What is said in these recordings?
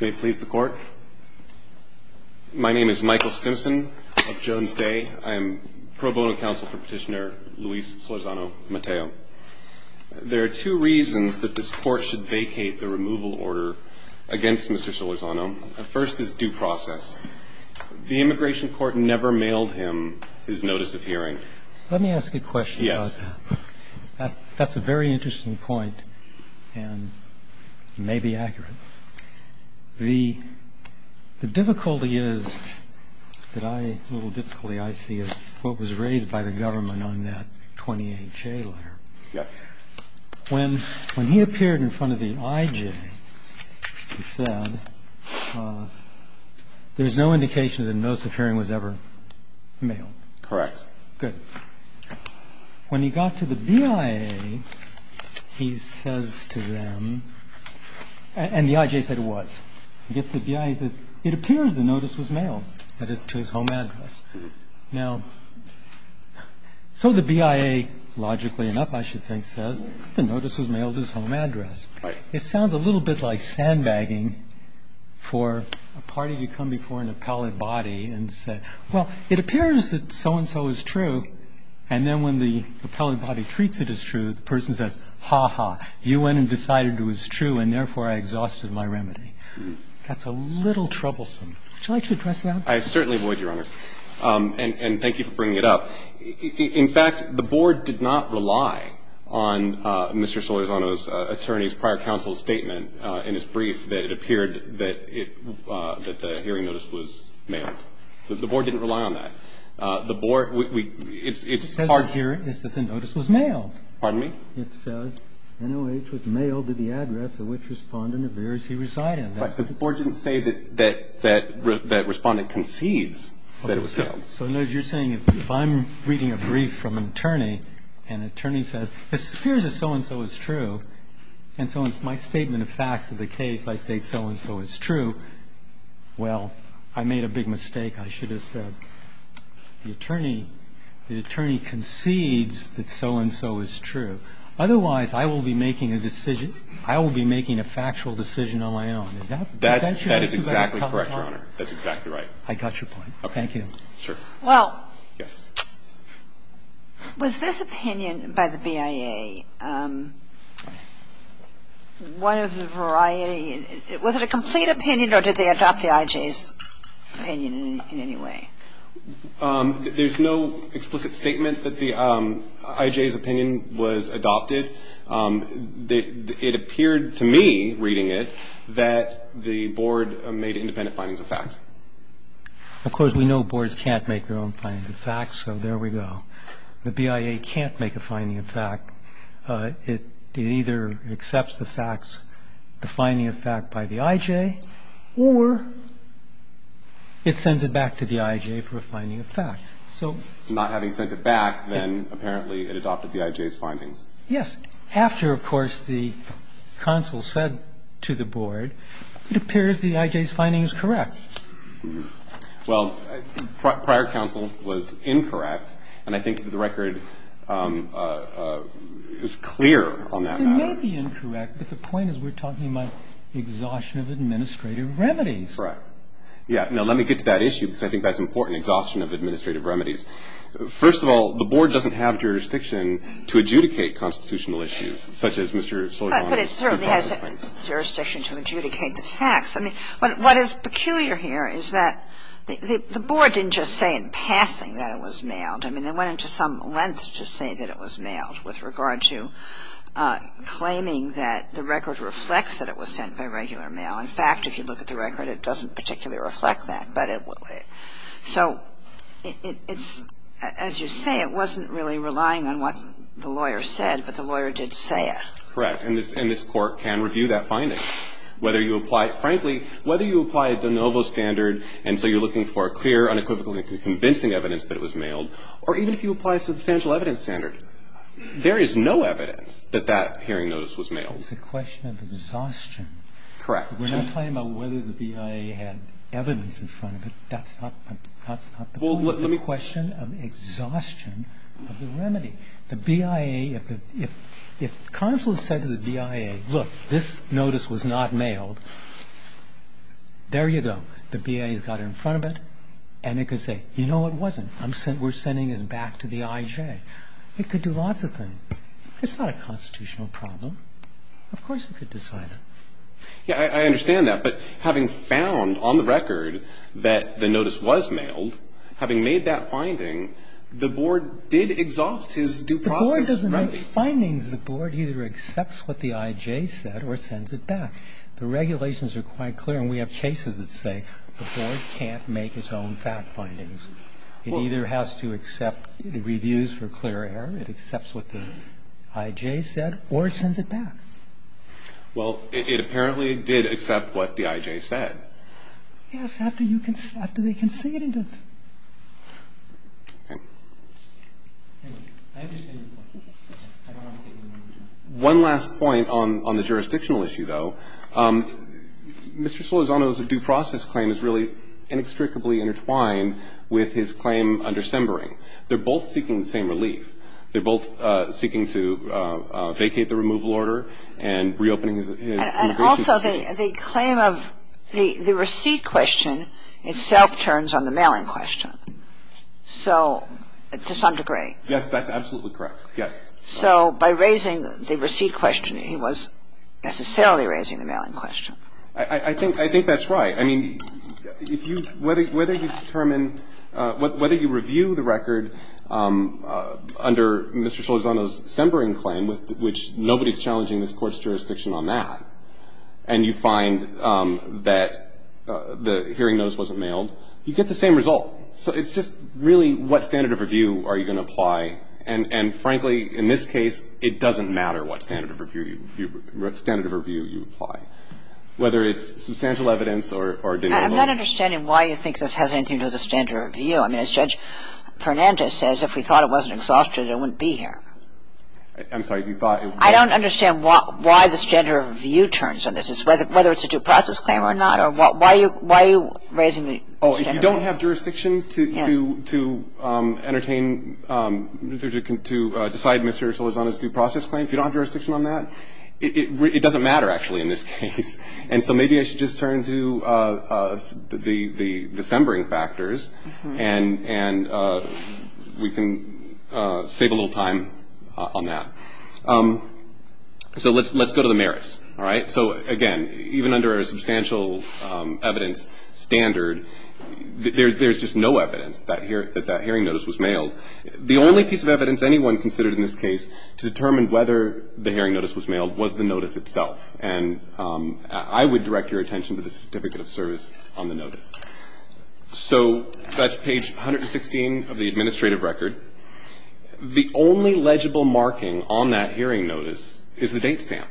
May it please the Court. My name is Michael Stimson of Jones Day. I am pro bono counsel for Petitioner Luis Solorzano-Mateo. There are two reasons that this Court should vacate the removal order against Mr. Solorzano. First is due process. The Immigration Court never mailed him his notice of hearing. Let me ask a question about that. That's a very interesting point and may be accurate. The difficulty is that I, a little difficulty I see is what was raised by the government on that 20HA letter. Yes. When he appeared in front of the IJ, he said there's no indication that a notice of hearing was ever mailed. Correct. Good. When he got to the BIA, he says to them, and the IJ said it was, he gets to the BIA and says it appears the notice was mailed, that is, to his home address. Now, so the BIA, logically enough I should think, says the notice was mailed to his home address. Right. It sounds a little bit like sandbagging for a party to come before an appellate body and say, Well, it appears that so-and-so is true, and then when the appellate body treats it as true, the person says, Ha-ha, you went and decided it was true, and therefore I exhausted my remedy. That's a little troublesome. Would you like to address that? I certainly would, Your Honor, and thank you for bringing it up. In fact, the Board did not rely on Mr. Solorzano's attorney's prior counsel's statement in his brief that it appeared that the hearing notice was mailed. The Board didn't rely on that. The Board, we, it's hard to hear. It says that the notice was mailed. Pardon me? It says, NOH was mailed to the address of which Respondent appears he reside in. But the Board didn't say that that Respondent concedes that it was mailed. So, in other words, you're saying if I'm reading a brief from an attorney, and an attorney says, It appears that so-and-so is true, and so it's my statement of facts of the case, I state so-and-so is true, well, I made a big mistake, I should have said, the attorney concedes that so-and-so is true. Otherwise, I will be making a decision, I will be making a factual decision on my own. Is that true? That is exactly correct, Your Honor. That's exactly right. I got your point. Okay. Thank you. Sure. Well. Yes. Was this opinion by the BIA one of the variety? Was it a complete opinion, or did they adopt the IJ's opinion in any way? There's no explicit statement that the IJ's opinion was adopted. It appeared to me, reading it, that the Board made independent findings of fact. Of course, we know Boards can't make their own findings of fact, so there we go. The BIA can't make a finding of fact. It either accepts the facts, the finding of fact by the IJ, or it sends it back to the IJ for a finding of fact. So. Not having sent it back, then apparently it adopted the IJ's findings. Yes. After, of course, the counsel said to the Board, it appears the IJ's finding is correct. Well, prior counsel was incorrect, and I think the record is clear on that matter. It may be incorrect, but the point is we're talking about exhaustion of administrative remedies. Correct. Yes. Now, let me get to that issue, because I think that's important, exhaustion of administrative remedies. First of all, the Board doesn't have jurisdiction to adjudicate constitutional issues, such as Mr. Sullivan's. But it certainly has jurisdiction to adjudicate the facts. I mean, what is peculiar here is that the Board didn't just say in passing that it was mailed. I mean, they went into some length to say that it was mailed with regard to claiming that the record reflects that it was sent by regular mail. In fact, if you look at the record, it doesn't particularly reflect that. But it so it's, as you say, it wasn't really relying on what the lawyer said, but the lawyer did say it. Correct. And this Court can review that finding. And the question is whether you apply, frankly, whether you apply a de novo standard, and so you're looking for clear, unequivocally convincing evidence that it was mailed, or even if you apply a substantial evidence standard, there is no evidence that that hearing notice was mailed. It's a question of exhaustion. Correct. We're not talking about whether the BIA had evidence in front of it. That's not the point. Well, let me question of exhaustion of the remedy. The BIA, if the consul said to the BIA, look, this notice was not mailed, there you go. The BIA has got it in front of it, and it can say, you know what, it wasn't. We're sending it back to the IJ. It could do lots of things. It's not a constitutional problem. Of course it could decide it. Yeah, I understand that. But having found on the record that the notice was mailed, having made that finding, the Board did exhaust his due process remedy. The Board doesn't make findings. The Board either accepts what the IJ said or sends it back. The regulations are quite clear, and we have cases that say the Board can't make its own fact findings. It either has to accept the reviews for clear error, it accepts what the IJ said, or it sends it back. Well, it apparently did accept what the IJ said. Yes, after you conceded it. Okay. I understand your point. I don't want to take any more of your time. One last point on the jurisdictional issue, though. Mr. Solorzano's due process claim is really inextricably intertwined with his claim under Sembering. They're both seeking the same relief. status. And also, the claim of the receipt question itself turns on the mailing question. So to some degree. Yes, that's absolutely correct. Yes. So by raising the receipt question, he was necessarily raising the mailing question. I think that's right. I mean, if you – whether you determine – whether you review the record under Mr. Solorzano's Sembering claim, which nobody's challenging this Court's jurisdiction on that, and you find that the hearing notice wasn't mailed, you get the same result. So it's just really what standard of review are you going to apply. And frankly, in this case, it doesn't matter what standard of review you apply, whether it's substantial evidence or denial of motive. I'm not understanding why you think this has anything to do with the standard of review. I mean, as Judge Fernandez says, if we thought it wasn't exhausted, it wouldn't be here. I'm sorry. You thought it was – I don't understand why the standard of review turns on this, whether it's a due process claim or not, or why are you raising the standard of review? Oh, if you don't have jurisdiction to entertain – to decide Mr. Solorzano's due process claim, if you don't have jurisdiction on that, it doesn't matter, actually, in this case. And so maybe I should just turn to the Sembering factors, and we can save a little time on that. So let's go to the merits, all right? So again, even under a substantial evidence standard, there's just no evidence that that hearing notice was mailed. The only piece of evidence anyone considered in this case to determine whether the hearing notice was mailed was the notice itself. And I would direct your attention to the Certificate of Service on the notice. So that's page 116 of the administrative record. The only legible marking on that hearing notice is the date stamp.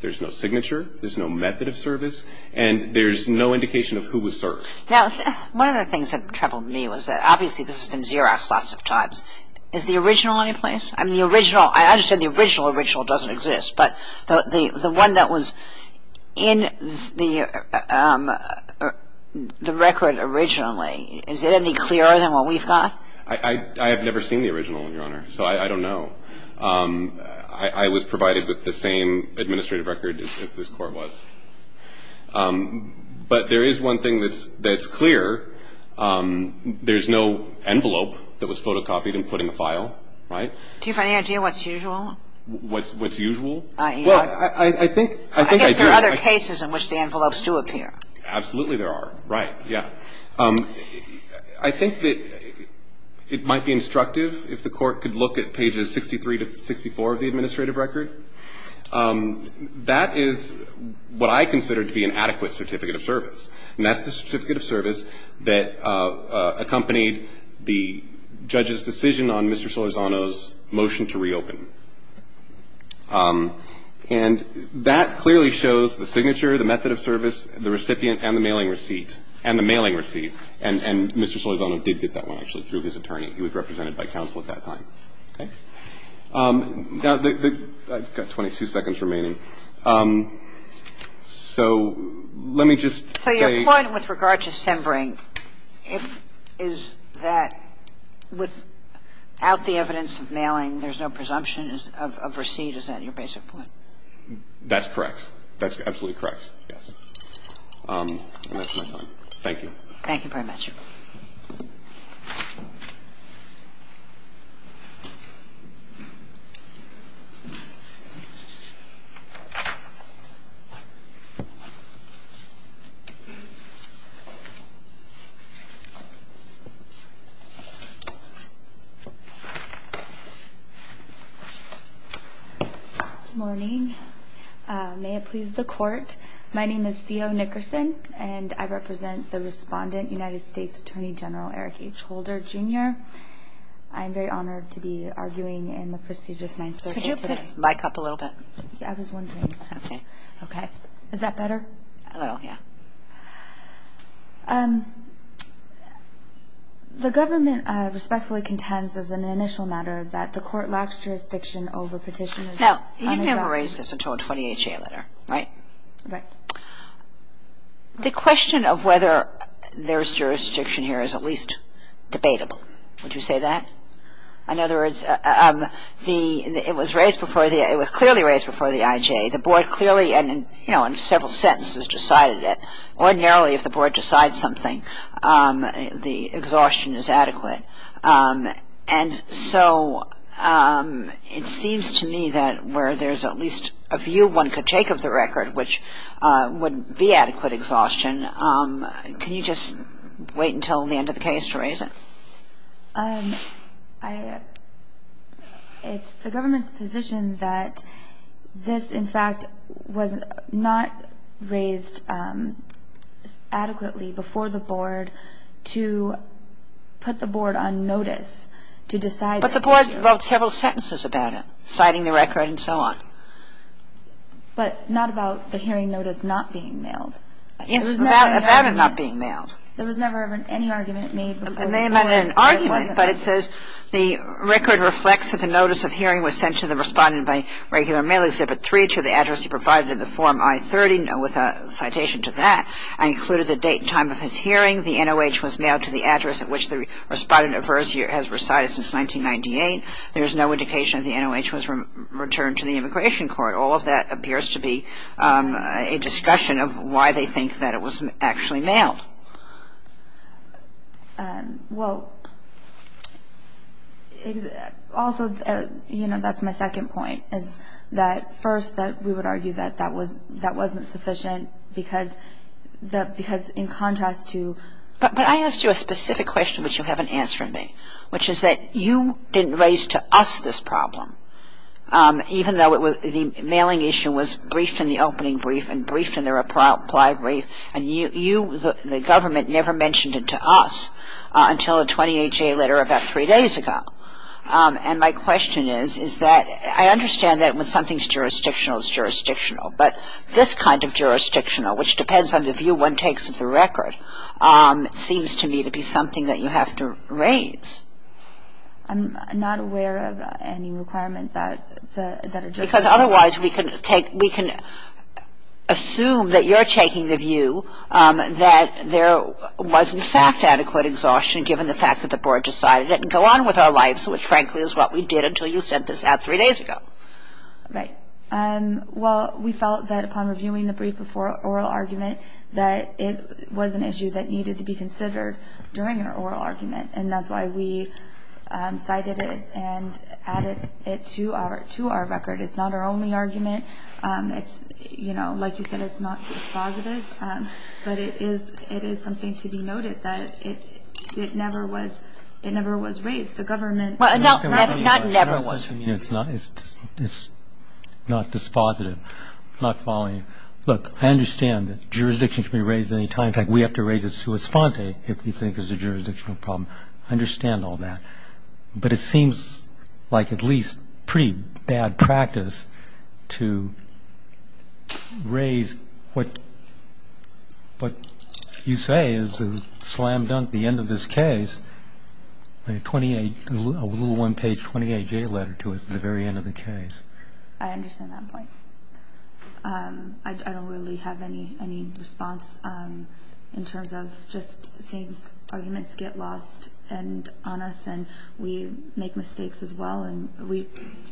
There's no signature. There's no method of service. And there's no indication of who was served. Now, one of the things that troubled me was that, obviously, this has been Xeroxed lots of times. Is the original anyplace? I mean, the original – I understand the original original doesn't exist. But the one that was in the record originally, is it any clearer than what we've got? I have never seen the original, Your Honor, so I don't know. I was provided with the same administrative record as this Court was. But there is one thing that's clear. There's no envelope that was photocopied and put in the file, right? Do you have any idea what's usual? What's usual? Well, I think I do. I guess there are other cases in which the envelopes do appear. Absolutely there are. Right. Yeah. I think that it might be instructive if the Court could look at pages 63 to 64 of the administrative record. That is what I consider to be an adequate certificate of service. And that's the certificate of service that accompanied the judge's decision on Mr. Solorzano's motion to reopen. And that clearly shows the signature, the method of service, the recipient, and the mailing receipt. And Mr. Solorzano did get that one, actually, through his attorney. He was represented by counsel at that time. Okay? Now, I've got 22 seconds remaining. So let me just say – So your point with regard to Sembring, is that without the evidence of mailing, there's no presumption of receipt? Is that your basic point? That's correct. That's absolutely correct, yes. And that's my time. Thank you. Thank you very much. Good morning. May it please the Court, my name is Theo Nickerson. And I represent the respondent, United States Attorney General Eric H. Holder, Jr. I'm very honored to be arguing in the prestigious Ninth Circuit today. Mic up a little bit. Yeah, I was wondering. Okay. Okay. Is that better? A little, yeah. The government respectfully contends, as an initial matter, that the court lacks jurisdiction over petitions. Now, you've never raised this until a 20HA letter, right? Right. The question of whether there's jurisdiction here is at least debatable. Would you say that? In other words, it was raised before the – it was clearly raised before the IJ. The Board clearly and, you know, in several sentences decided it. Ordinarily, if the Board decides something, the exhaustion is adequate. And so, it seems to me that where there's at least a view one could take of the record, which would be adequate exhaustion, can you just wait until the end of the case to raise it? It's the government's position that this, in fact, was not raised adequately before the Board to put the Board on notice to decide this issue. But the Board wrote several sentences about it, citing the record and so on. But not about the hearing notice not being mailed. Yes, about it not being mailed. There was never any argument made before the Board that it wasn't mailed. There may have been an argument, but it says the record reflects that the notice of hearing was sent to the respondent by regular mail, Exhibit 3, to the address he provided in the Form I-30, with a citation to that, and included the date and time of his hearing. The NOH was mailed to the address at which the respondent has recited since 1998. There is no indication that the NOH was returned to the Immigration Court. All of that appears to be a discussion of why they think that it was actually mailed. Well, also, you know, that's my second point, is that, first, that we would argue that that was that wasn't sufficient because the – because in contrast to – But I asked you a specific question which you haven't answered me, which is that you didn't raise to us this problem, even though the mailing issue was briefed in the opening brief and briefed in the reply brief, and you, the government, never mentioned it to us until a 28-J letter about three days ago. And my question is, is that I understand that when something's jurisdictional, it's jurisdictional, but this kind of jurisdictional, which depends on the view one takes of the record, seems to me to be something that you have to raise. I'm not aware of any requirement that the – Because otherwise, we can take – we can assume that you're taking the view that there was, in fact, adequate exhaustion given the fact that the Board decided it and go on with our lives, which, frankly, is what we did until you sent this out three days ago. Right. Well, we felt that upon reviewing the brief before oral argument that it was an issue that needed to be considered during an oral argument, and that's why we cited it and added it to our record. It's not our only argument. It's, you know, like you said, it's not dispositive, but it is something to be noted that it never was raised. The government – Well, no, not never was. It's not dispositive. I'm not following you. Look, I understand that jurisdiction can be raised at any time. In fact, we have to raise it sua sponte if we think there's a jurisdictional problem. I understand all that. But it seems like at least pretty bad practice to raise what you say is a slam dunk at the end of this case, a little one-page 28-J letter to us at the very end of the case. I understand that point. I don't really have any response in terms of just things – arguments get lost on us, and we make mistakes as well, and we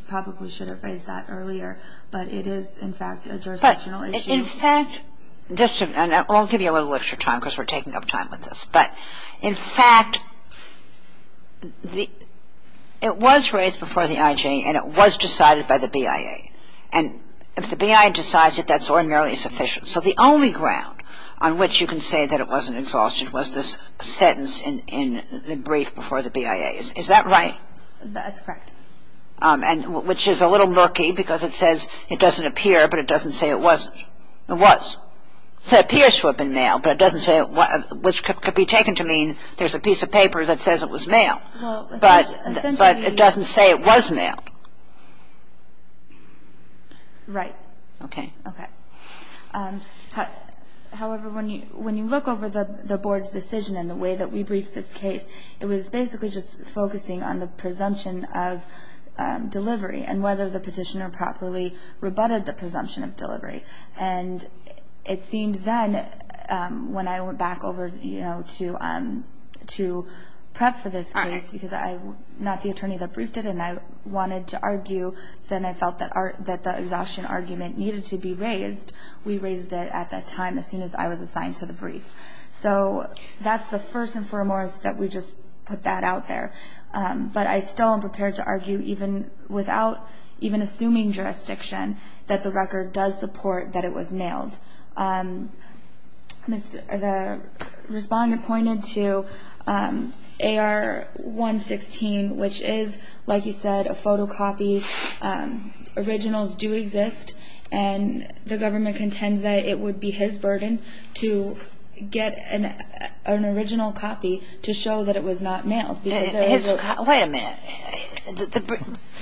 probably should have raised that earlier. But it is, in fact, a jurisdictional issue. In fact – and I'll give you a little extra time because we're taking up time with this. But in fact, it was raised before the IG, and it was decided by the BIA. And if the BIA decides it, that's ordinarily sufficient. So the only ground on which you can say that it wasn't exhausted was this sentence in the brief before the BIA. Is that right? That's correct. And which is a little murky because it says it doesn't appear, but it doesn't say it was. It was. It appears to have been mailed, but it doesn't say – which could be taken to mean there's a piece of paper that says it was mailed. But it doesn't say it was mailed. Right. Okay. Okay. However, when you look over the Board's decision and the way that we briefed this case, it was basically just focusing on the presumption of delivery and whether the petitioner properly rebutted the presumption of delivery. And it seemed then, when I went back over to prep for this case, because I'm not the attorney that briefed it and I wanted to argue, then I felt that the exhaustion argument needed to be raised. We raised it at that time, as soon as I was assigned to the brief. So that's the first and foremost that we just put that out there. But I still am prepared to argue, even without – even assuming jurisdiction, that the record does support that it was mailed. The respondent pointed to AR-116, which is, like you said, a photocopy. Originals do exist. And the government contends that it would be his burden to get an original copy to show that it was not mailed. Wait a minute.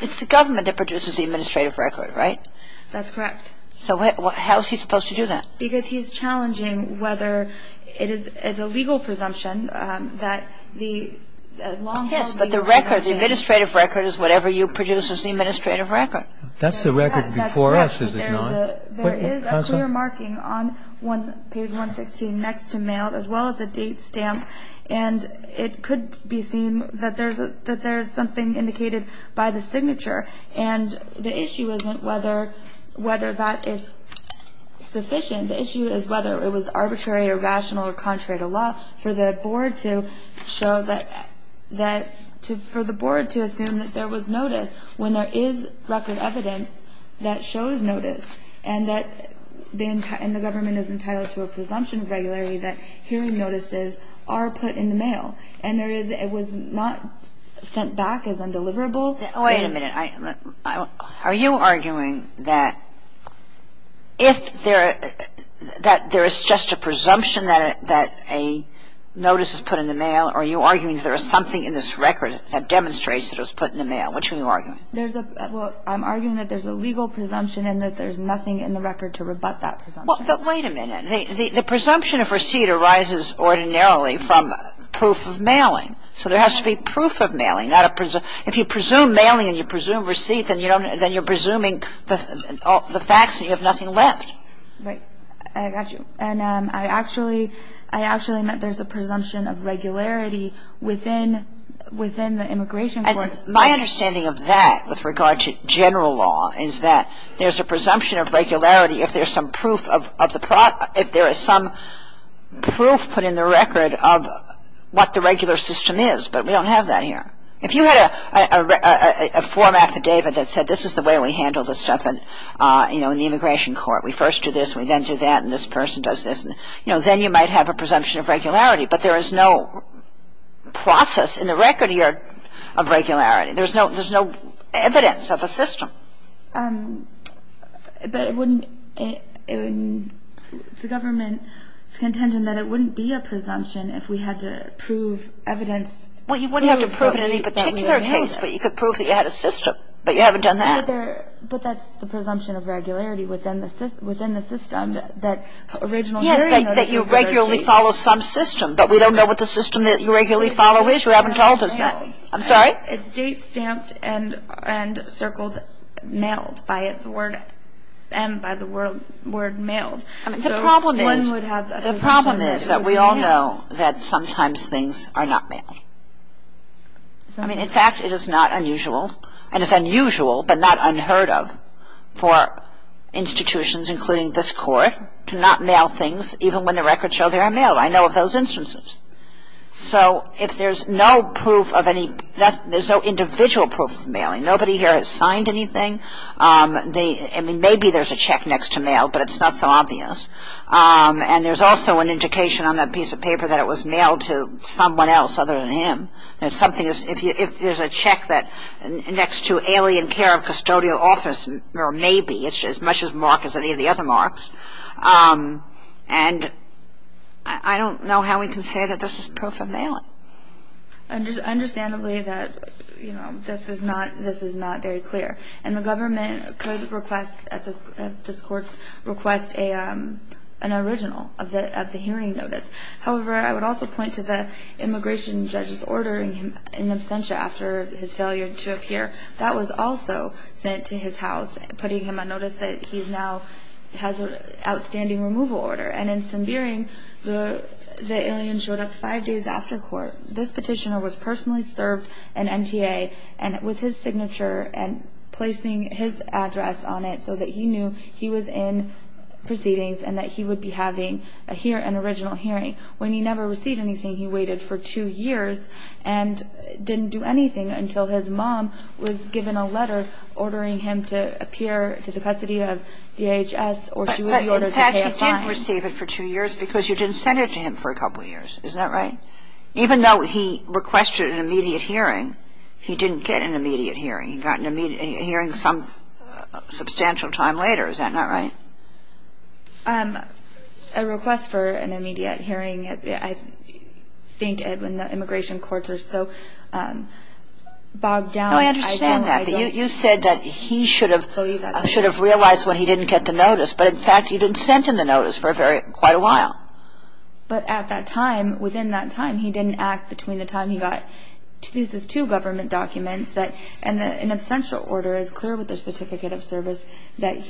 It's the government that produces the administrative record, right? That's correct. So how is he supposed to do that? Because he's challenging whether it is a legal presumption that the long-term Yes, but the record, the administrative record is whatever you produce as the administrative record. That's the record before us, is it not? There is a clear marking on page 116 next to mailed, as well as a date stamp. And it could be seen that there's something indicated by the signature. And the issue isn't whether that is sufficient. The issue is whether it was arbitrary or rational or contrary to law for the board to show that – for the board to assume that there was notice when there is record evidence that shows notice and that the government is entitled to a presumption of regularity that hearing notices are put in the mail. And there is – it was not sent back as undeliverable. Wait a minute. Are you arguing that if there – that there is just a presumption that a notice is put in the mail? Are you arguing there is something in this record that demonstrates it was put in the mail? Which are you arguing? There's a – well, I'm arguing that there's a legal presumption and that there's nothing in the record to rebut that presumption. Well, but wait a minute. The presumption of receipt arises ordinarily from proof of mailing. So there has to be proof of mailing, not a – if you presume mailing and you presume receipt, then you don't – then you're presuming the facts and you have nothing left. Right. I got you. And I actually meant there's a presumption of regularity within the immigration court. My understanding of that with regard to general law is that there's a presumption of regularity if there's some proof of the – if there is some proof put in the record of what the regular system is. But we don't have that here. If you had a form affidavit that said this is the way we handle this stuff in, you know, in the immigration court. We first do this, we then do that, and this person does this. You know, then you might have a presumption of regularity. But there is no process in the record here of regularity. There's no – there's no evidence of a system. But it wouldn't – the government is contending that it wouldn't be a presumption if we had to prove evidence. Well, you wouldn't have to prove it in any particular case, but you could prove that you had a system. But you haven't done that. But there – but that's the presumption of regularity within the – within the system that original – Yes, that you regularly follow some system. But we don't know what the system that you regularly follow is. You haven't told us that. I'm sorry? It's date stamped and circled mailed by the word – and by the word mailed. The problem is – the problem is that we all know that sometimes things are not mailed. I mean, in fact, it is not unusual – and it's unusual, but not unheard of for institutions, including this Court, to not mail things even when the records show they are mailed. I know of those instances. So if there's no proof of any – there's no individual proof of mailing. Nobody here has signed anything. I mean, maybe there's a check next to mailed, but it's not so obvious. And there's also an indication on that piece of paper that it was mailed to someone else other than him. There's something – if there's a check that – next to alien care of custodial office, or maybe – it's as much a mark as any of the other marks. And I don't know how we can say that this is proof of mailing. Understandably that, you know, this is not – this is not very clear. And the government could request – this Court's request an original of the hearing notice. However, I would also point to the immigration judge's order in absentia after his failure to appear. That was also sent to his house, putting him on notice that he now has an outstanding removal order. And in Sundeering, the alien showed up five days after court. This petitioner was personally served an NTA and with his signature and placing his address on it so that he knew he was in proceedings and that he would be having an original hearing. When he never received anything, he waited for two years and didn't do anything until his mom was given a letter ordering him to appear to the custody of DHS, or she would be ordered to pay a fine. But, Pat, you did receive it for two years because you didn't send it to him for a couple years. Isn't that right? Even though he requested an immediate hearing, he didn't get an immediate hearing. He got an immediate hearing some substantial time later. Is that not right? A request for an immediate hearing, I think, Edwin, the immigration courts are so bogged down. No, I understand that. But you said that he should have realized when he didn't get the notice. But, in fact, you didn't send him the notice for quite a while. But at that time, within that time, he didn't act between the time he got these two government documents and an absential order is clear with the certificate of service that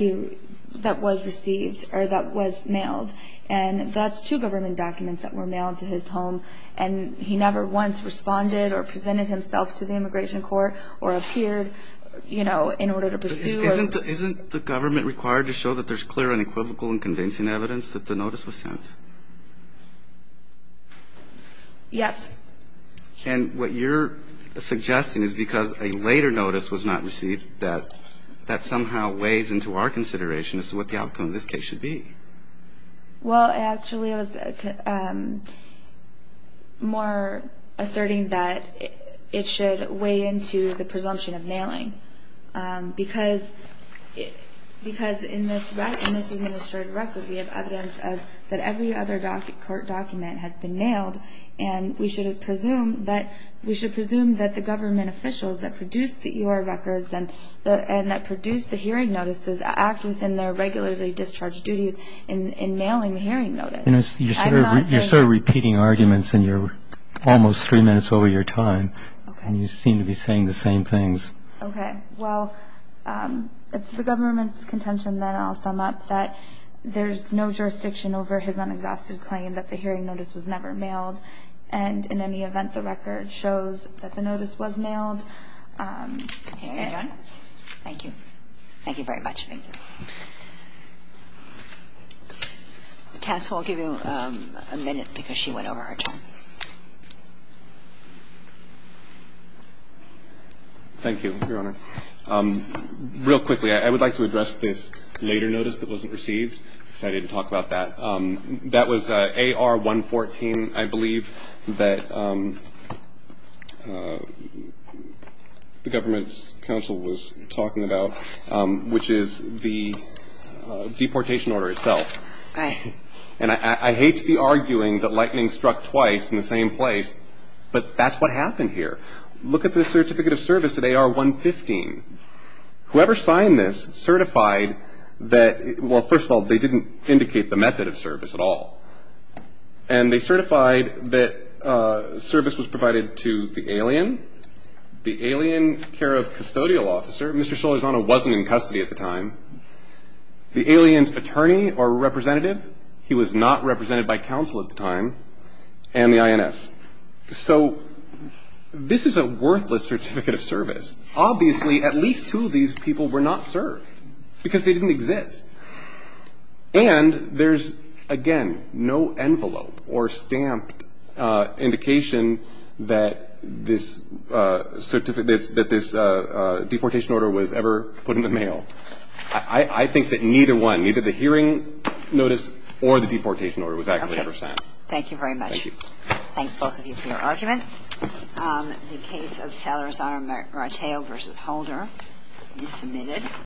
was received or that was mailed. And that's two government documents that were mailed to his home. And he never once responded or presented himself to the immigration court or appeared, you know, in order to pursue. Isn't the government required to show that there's clear and equivocal and convincing evidence that the notice was sent? Yes. And what you're suggesting is because a later notice was not received, that that somehow weighs into our consideration as to what the outcome of this case should be. Well, actually, it was more asserting that it should weigh into the presumption of mailing. Because in this administrative record, we have evidence that every other court document has been mailed. And we should presume that we should presume that the government officials that produced the U.R. records and that produced the hearing notices act within their regularly discharged duties in mailing the hearing notice. You know, you're sort of repeating arguments in your almost three minutes over your time. And you seem to be saying the same things. OK, well, it's the government's contention that I'll sum up that there's no jurisdiction over his unexhausted claim that the hearing notice was never mailed. And in any event, the record shows that the notice was mailed. Thank you. Thank you very much. Castle, I'll give you a minute because she went over her time. Thank you, Your Honor. Real quickly, I would like to address this later notice that wasn't received. Excited to talk about that. That was A.R. 114, I believe, that the government's counsel was talking about, which is the deportation order itself. And I hate to be arguing that lightning struck twice, but I'm going to say that lightning struck twice. It's in the same place, but that's what happened here. Look at the certificate of service that they are 115. Whoever signed this certified that. Well, first of all, they didn't indicate the method of service at all. And they certified that service was provided to the alien, the alien care of custodial officer. Mr. Solizano wasn't in custody at the time. The alien's attorney or representative, he was not represented by counsel at the time. And the I.N.S. So this is a worthless certificate of service. Obviously, at least two of these people were not served because they didn't exist. And there's, again, no envelope or stamped indication that this certificate that this deportation order was ever put in the mail. I think that neither one, either the hearing notice or the deportation order was actually ever signed. Thank you very much. Thank both of you for your argument. The case of Salazar Mateo versus Holder is submitted.